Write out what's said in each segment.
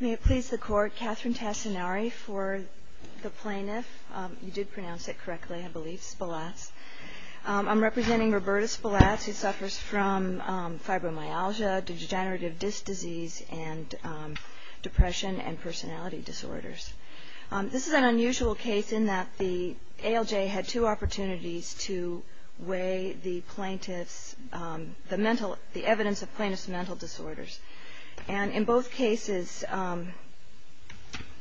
May it please the court, Catherine Tassinari for the plaintiff, you did pronounce it correctly I believe, Spelatz. I'm representing Roberta Spelatz who suffers from fibromyalgia, degenerative disc disease, and depression and personality disorders. This is an unusual case in that the ALJ had two opportunities to weigh the plaintiff's, the mental, the evidence of plaintiff's mental disorders. And in both cases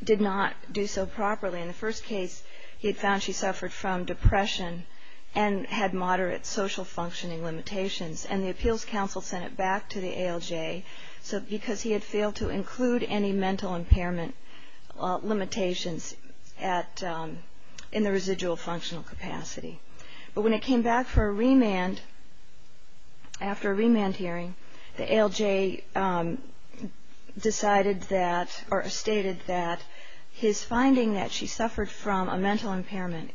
did not do so properly. In the first case he had found she suffered from depression and had moderate social functioning limitations. And the appeals council sent it back to the ALJ because he had failed to include any mental impairment limitations in the residual functional capacity. But when it came back for a remand, after a remand hearing, the ALJ decided that or stated that his finding that she suffered from a mental impairment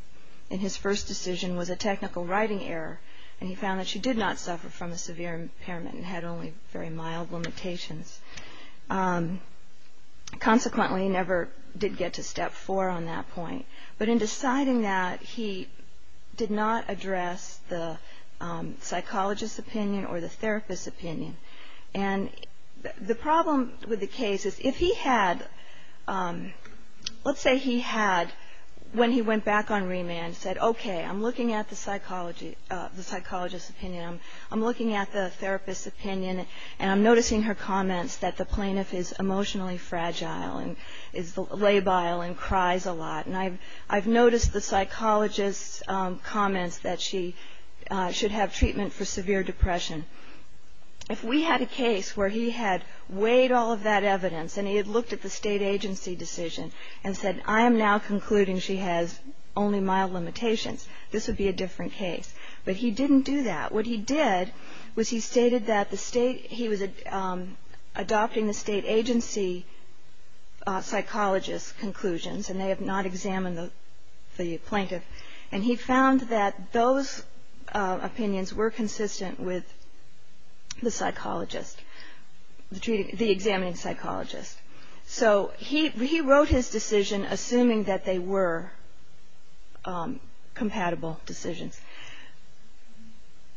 in his first decision was a technical writing error and he found that she did not suffer from a severe impairment and had only very mild limitations. Consequently he never did get to step four on that point. But in deciding that he did not address the psychologist's opinion or the therapist's opinion. And the problem with the case is if he had, let's say he had when he went back on remand said okay I'm looking at the psychologist's opinion, I'm looking at the therapist's opinion and I'm noticing her comments that the plaintiff is emotionally fragile and is labile and cries a lot. And I've noticed the psychologist's comments that she should have treatment for severe depression. If we had a case where he had weighed all of that evidence and he had looked at the state agency decision and said I am now concluding she has only mild limitations, this would be a different case. But he didn't do that. What he did was he stated that he was adopting the state agency psychologist's conclusions and they have not examined the plaintiff. And he found that those opinions were consistent with the psychologist, the examining psychologist. So he wrote his decision assuming that they were compatible decisions.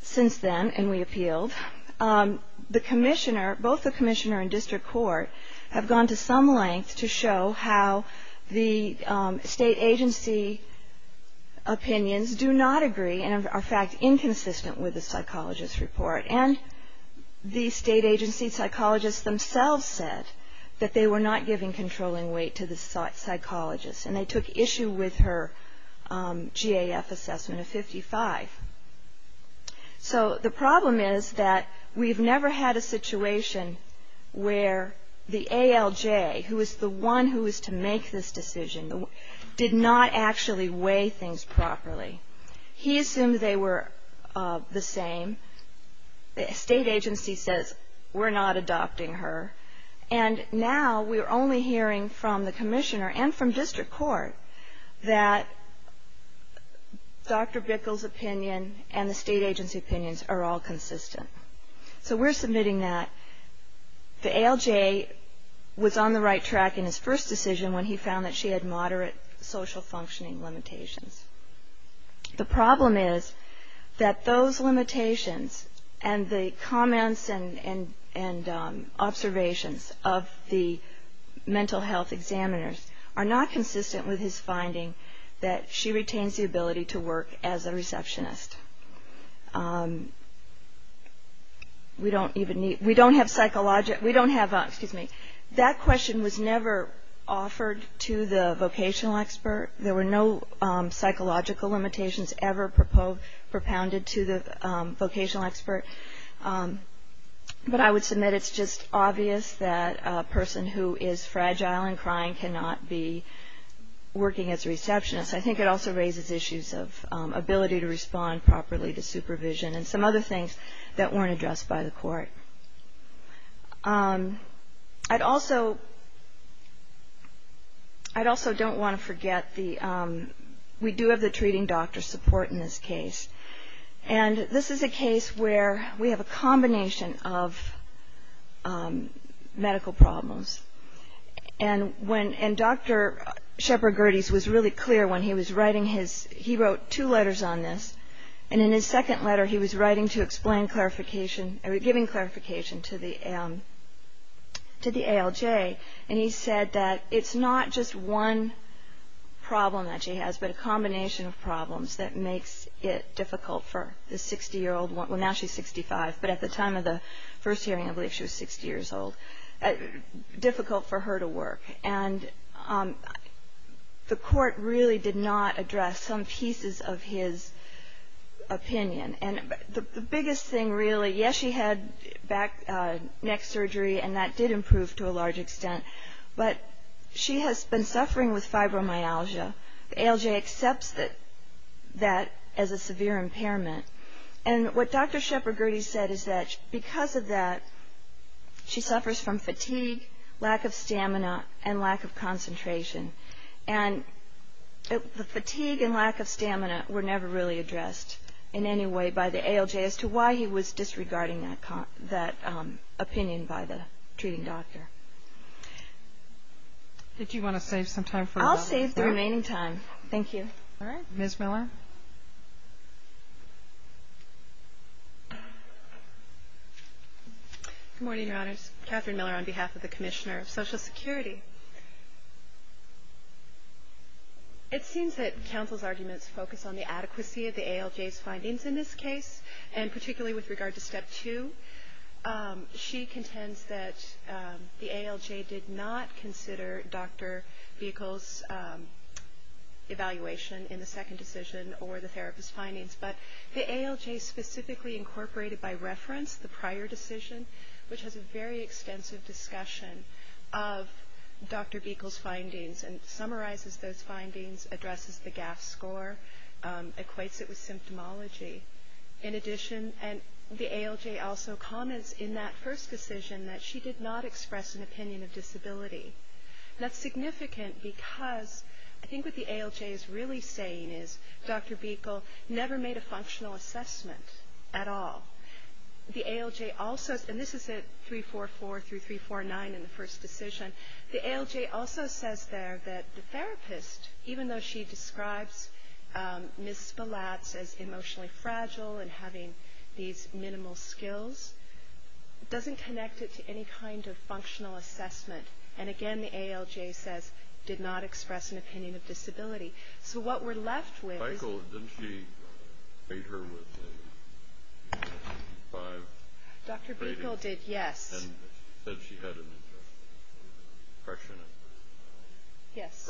Since then, and we appealed, the commissioner, both the commissioner and district court, have gone to some length to show how the state agency opinions do not agree and are in fact inconsistent with the psychologist's report. And the state agency psychologists themselves said that they were not giving controlling weight to the psychologist and they took issue with her GAF assessment of 55. So the problem is that we've never had a situation where the ALJ, who is the one who is to make this decision, did not actually weigh things properly. He assumed they were the same. The state agency says we're not adopting her. And now we're only hearing from the commissioner and from district court that Dr. Bickel's opinion and the state agency opinions are all consistent. So we're submitting that the ALJ was on the right track in his first decision when he found that she had moderate social functioning limitations. The problem is that those limitations and the comments and observations of the mental health examiners are not consistent with his finding that she retains the ability to work as a receptionist. We don't have psychological, we don't have, excuse me, that question was never offered to the vocational expert. There were no psychological limitations ever propounded to the vocational expert. But I would submit it's just obvious that a person who is fragile and crying cannot be working as a receptionist. I think it also raises issues of ability to respond properly to supervision and some other things that weren't addressed by the court. I'd also don't want to forget the, we do have the treating doctor support in this case. And this is a case where we have a combination of medical problems. And when, and Dr. Shepard Gerdes was really clear when he was writing his, he wrote two letters on this. And in his second letter he was writing to explain clarification, giving clarification to the ALJ. And he said that it's not just one problem that she has, but a combination of problems that makes it difficult for the 60-year-old, well now she's 65, but at the time of the first hearing I believe she was 60 years old, difficult for her to work. And the court really did not address some pieces of his opinion. And the biggest thing really, yes she had neck surgery and that did improve to a large extent, but she has been suffering with fibromyalgia. The ALJ accepts that as a severe impairment. And what Dr. Shepard Gerdes said is that because of that she suffers from fatigue, lack of stamina, and lack of concentration. And the fatigue and lack of stamina were never really addressed in any way by the ALJ as to why he was disregarding that opinion by the treating doctor. Did you want to save some time for the rest? I'll save the remaining time, thank you. All right, Ms. Miller. Good morning, Your Honors. Catherine Miller on behalf of the Commissioner of Social Security. It seems that counsel's arguments focus on the adequacy of the ALJ's findings in this case, and particularly with regard to Step 2. She contends that the ALJ did not consider Dr. Buechel's evaluation in the second decision or the therapist's findings, but the ALJ specifically incorporated by reference the prior decision, which has a very extensive discussion of Dr. Buechel's findings and summarizes those findings, addresses the GAF score, equates it with symptomology. In addition, the ALJ also comments in that first decision that she did not express an opinion of disability. That's significant because I think what the ALJ is really saying is Dr. Buechel never made a functional assessment at all. The ALJ also, and this is at 344 through 349 in the first decision, the ALJ also says there that the therapist, even though she describes Ms. Spillatz as emotionally fragile and having these minimal skills, doesn't connect it to any kind of functional assessment. And again, the ALJ says, did not express an opinion of disability. So what we're left with is... Michael, didn't she rate her with a 5 rating? Dr. Buechel did, yes. And she said she had an impression of her. Yes.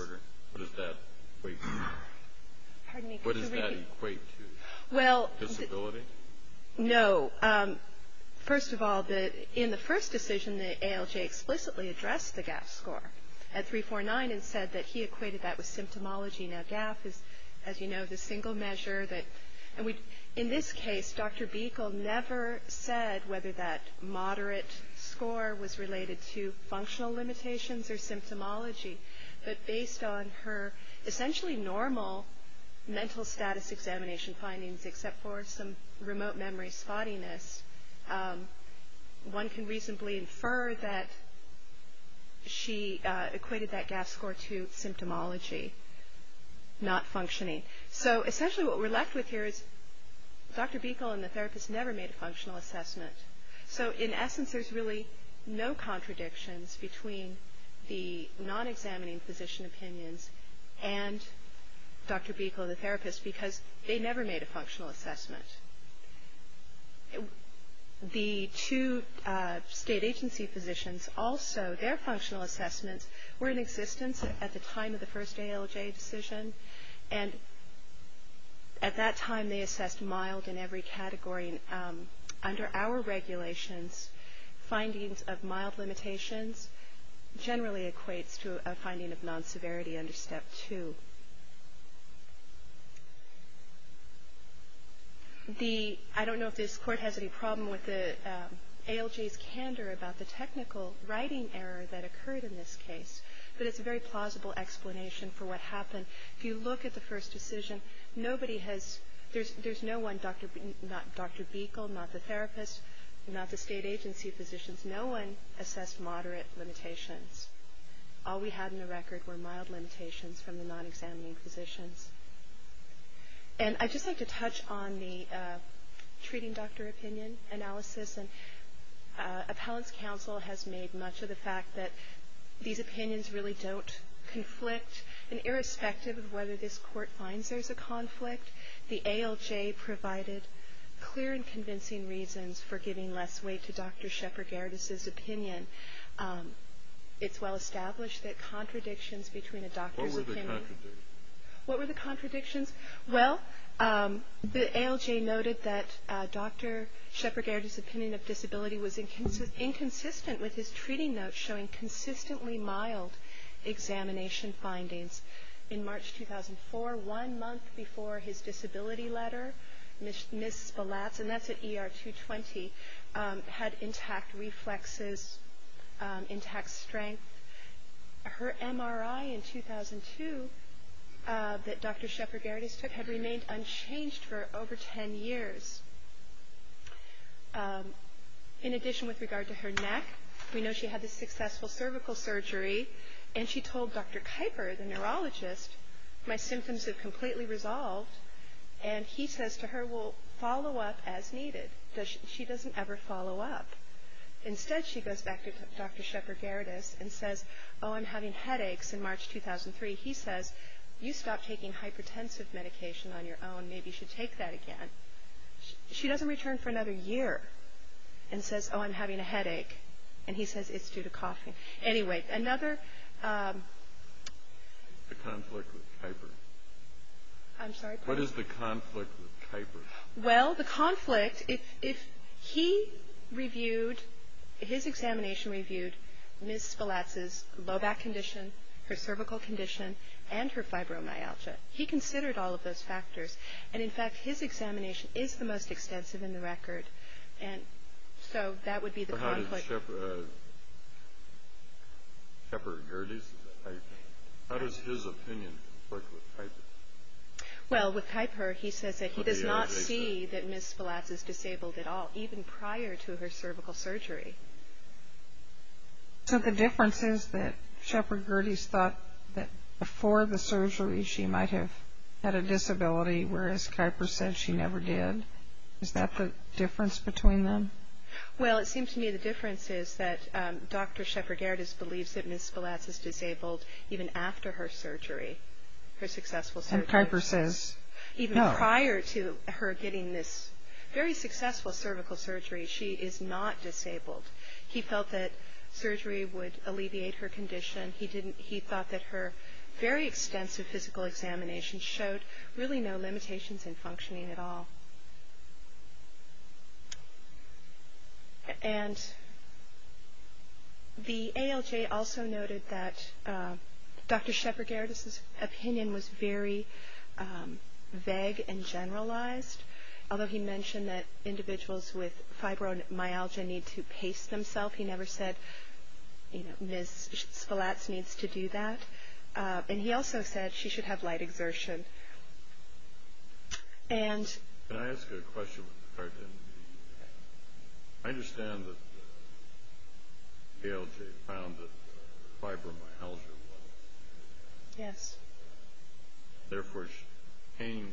What does that equate to? Pardon me, could you repeat? What does that equate to? Disability? No. First of all, in the first decision, the ALJ explicitly addressed the GAF score at 349 and said that he equated that with symptomology. Now GAF is, as you know, the single measure that... In this case, Dr. Buechel never said whether that moderate score was related to functional limitations or symptomology, but based on her essentially normal mental status examination findings, except for some remote memory spottiness, one can reasonably infer that she equated that GAF score to symptomology, not functioning. So essentially what we're left with here is Dr. Buechel and the therapist never made a functional assessment. So in essence, there's really no contradictions between the non-examining physician opinions and Dr. Buechel and the therapist because they never made a functional assessment. The two state agency physicians also, their functional assessments were in existence at the time of the first ALJ decision, and at that time they assessed mild in every category. Under our regulations, findings of mild limitations generally equates to a finding of non-severity under Step 2. I don't know if this Court has any problem with the ALJ's candor about the technical writing error that occurred in this case, but it's a very plausible explanation for what happened. If you look at the first decision, nobody has, there's no one, not Dr. Buechel, not the therapist, not the state agency physicians, no one assessed moderate limitations. All we had in the record were mild limitations from the non-examining physicians. And I'd just like to touch on the treating doctor opinion analysis, and appellant's counsel has made much of the fact that these opinions really don't conflict, and irrespective of whether this Court finds there's a conflict, the ALJ provided clear and convincing reasons for giving less weight to Dr. Shepherd-Gerdes' opinion. It's well established that contradictions between a doctor's opinion... What were the contradictions? What were the contradictions? Well, the ALJ noted that Dr. Shepherd-Gerdes' opinion of disability was inconsistent with his treating notes showing consistently mild examination findings. In March 2004, one month before his disability letter, Ms. Spallatz, and that's at ER 220, had intact reflexes, intact strength. Her MRI in 2002 that Dr. Shepherd-Gerdes took had remained unchanged for over 10 years. In addition, with regard to her neck, we know she had a successful cervical surgery, and she told Dr. Kuyper, the neurologist, my symptoms have completely resolved, and he says to her, we'll follow up as needed. She doesn't ever follow up. Instead, she goes back to Dr. Shepherd-Gerdes and says, oh, I'm having headaches in March 2003. He says, you stopped taking hypertensive medication on your own. Maybe you should take that again. She doesn't return for another year and says, oh, I'm having a headache, and he says it's due to coughing. Anyway, another... The conflict with Kuyper. I'm sorry? What is the conflict with Kuyper? Well, the conflict, if he reviewed, his examination reviewed Ms. Spilatz's low back condition, her cervical condition, and her fibromyalgia. He considered all of those factors, and, in fact, his examination is the most extensive in the record, and so that would be the conflict. But how did Shepherd-Gerdes, Kuyper, how does his opinion work with Kuyper? Well, with Kuyper, he says that he does not see that Ms. Spilatz is disabled at all, even prior to her cervical surgery. So the difference is that Shepherd-Gerdes thought that before the surgery she might have had a disability, whereas Kuyper said she never did. Is that the difference between them? Well, it seems to me the difference is that Dr. Shepherd-Gerdes believes that Ms. Spilatz is disabled even after her surgery, her successful surgery. And Kuyper says no. Even prior to her getting this very successful cervical surgery, she is not disabled. He felt that surgery would alleviate her condition. He thought that her very extensive physical examination showed really no limitations in functioning at all. And the ALJ also noted that Dr. Shepherd-Gerdes' opinion was very vague and generalized, although he mentioned that individuals with fibromyalgia need to pace themselves. He never said, you know, Ms. Spilatz needs to do that. And he also said she should have light exertion. Can I ask you a question with regard to MD? I understand that ALJ found that fibromyalgia was there. Yes. Therefore, her pain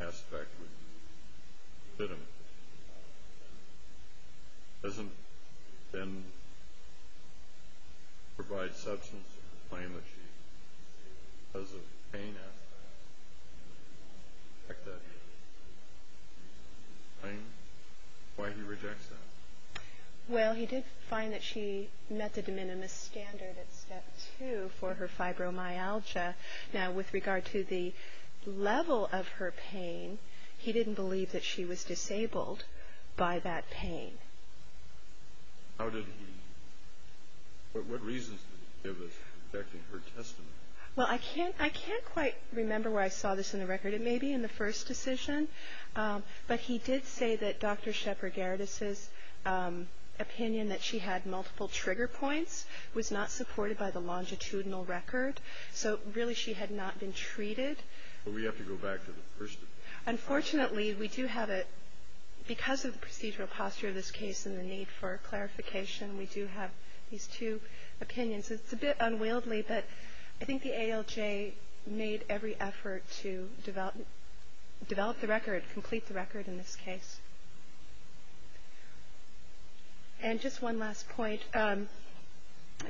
aspect was legitimate. Doesn't it then provide substance to the claim that she has a pain aspect? Why he rejects that? Well, he did find that she met the de minimis standard at Step 2 for her fibromyalgia. Now, with regard to the level of her pain, he didn't believe that she was disabled by that pain. How did he? What reasons did he give as to protecting her testimony? Well, I can't quite remember where I saw this in the record. It may be in the first decision. But he did say that Dr. Shepherd-Gerdes' opinion that she had multiple trigger points was not supported by the longitudinal record. So really she had not been treated. Well, we have to go back to the first. Unfortunately, we do have a, because of the procedural posture of this case and the need for clarification, we do have these two opinions. It's a bit unwieldy, but I think the ALJ made every effort to develop the record, complete the record in this case. And just one last point.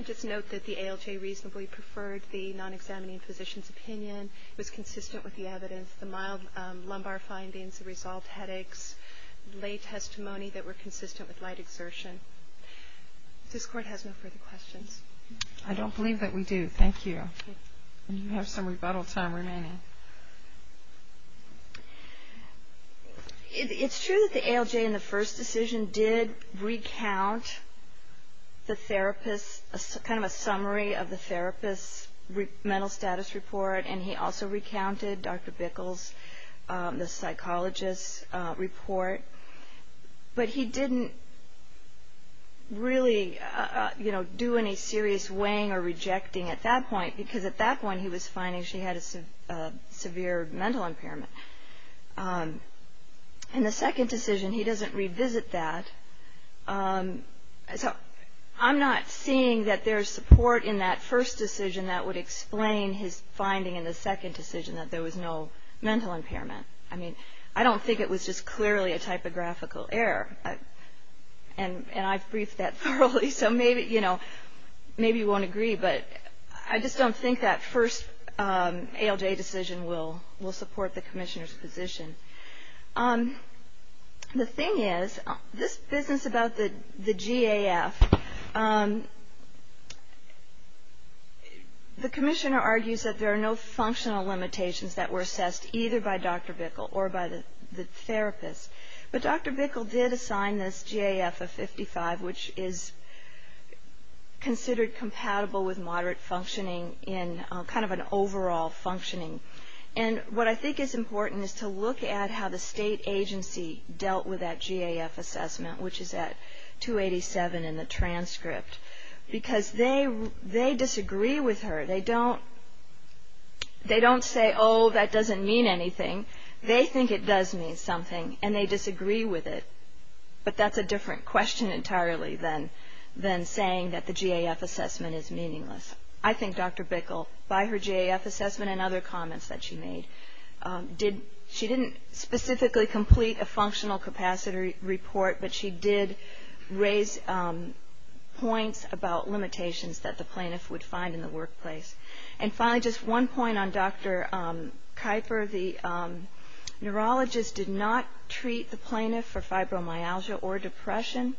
Just note that the ALJ reasonably preferred the non-examining physician's opinion. It was consistent with the evidence. The mild lumbar findings, the resolved headaches, lay testimony that were consistent with light exertion. If this Court has no further questions. I don't believe that we do. Thank you. And you have some rebuttal time remaining. It's true that the ALJ in the first decision did recount the therapist, kind of a summary of the therapist's mental status report, and he also recounted Dr. Bickel's, the psychologist's report. But he didn't really, you know, do any serious weighing or rejecting at that point, because at that point he was finding she had a severe mental impairment. In the second decision, he doesn't revisit that. So I'm not seeing that there's support in that first decision that would explain his finding in the second decision that there was no mental impairment. I mean, I don't think it was just clearly a typographical error. And I've briefed that thoroughly, so maybe, you know, maybe you won't agree, but I just don't think that first ALJ decision will support the commissioner's position. The thing is, this business about the GAF, the commissioner argues that there are no functional limitations that were assessed, either by Dr. Bickel or by the therapist. But Dr. Bickel did assign this GAF of 55, which is considered compatible with moderate functioning in kind of an overall functioning. And what I think is important is to look at how the state agency dealt with that GAF assessment, which is at 287 in the transcript, because they disagree with her. They don't say, oh, that doesn't mean anything. They think it does mean something, and they disagree with it. But that's a different question entirely than saying that the GAF assessment is meaningless. I think Dr. Bickel, by her GAF assessment and other comments that she made, she didn't specifically complete a functional capacity report, but she did raise points about limitations that the plaintiff would find in the workplace. And finally, just one point on Dr. Kuyper. The neurologist did not treat the plaintiff for fibromyalgia or depression,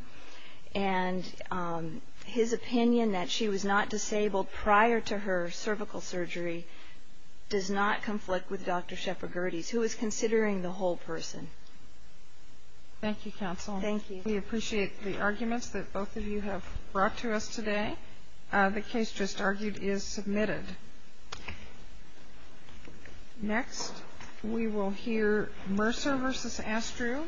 and his opinion that she was not disabled prior to her cervical surgery does not conflict with Dr. Shepherd-Gerdes, who is considering the whole person. Thank you, counsel. Thank you. We appreciate the arguments that both of you have brought to us today. The case just argued is submitted. Next, we will hear Mercer v. Astru.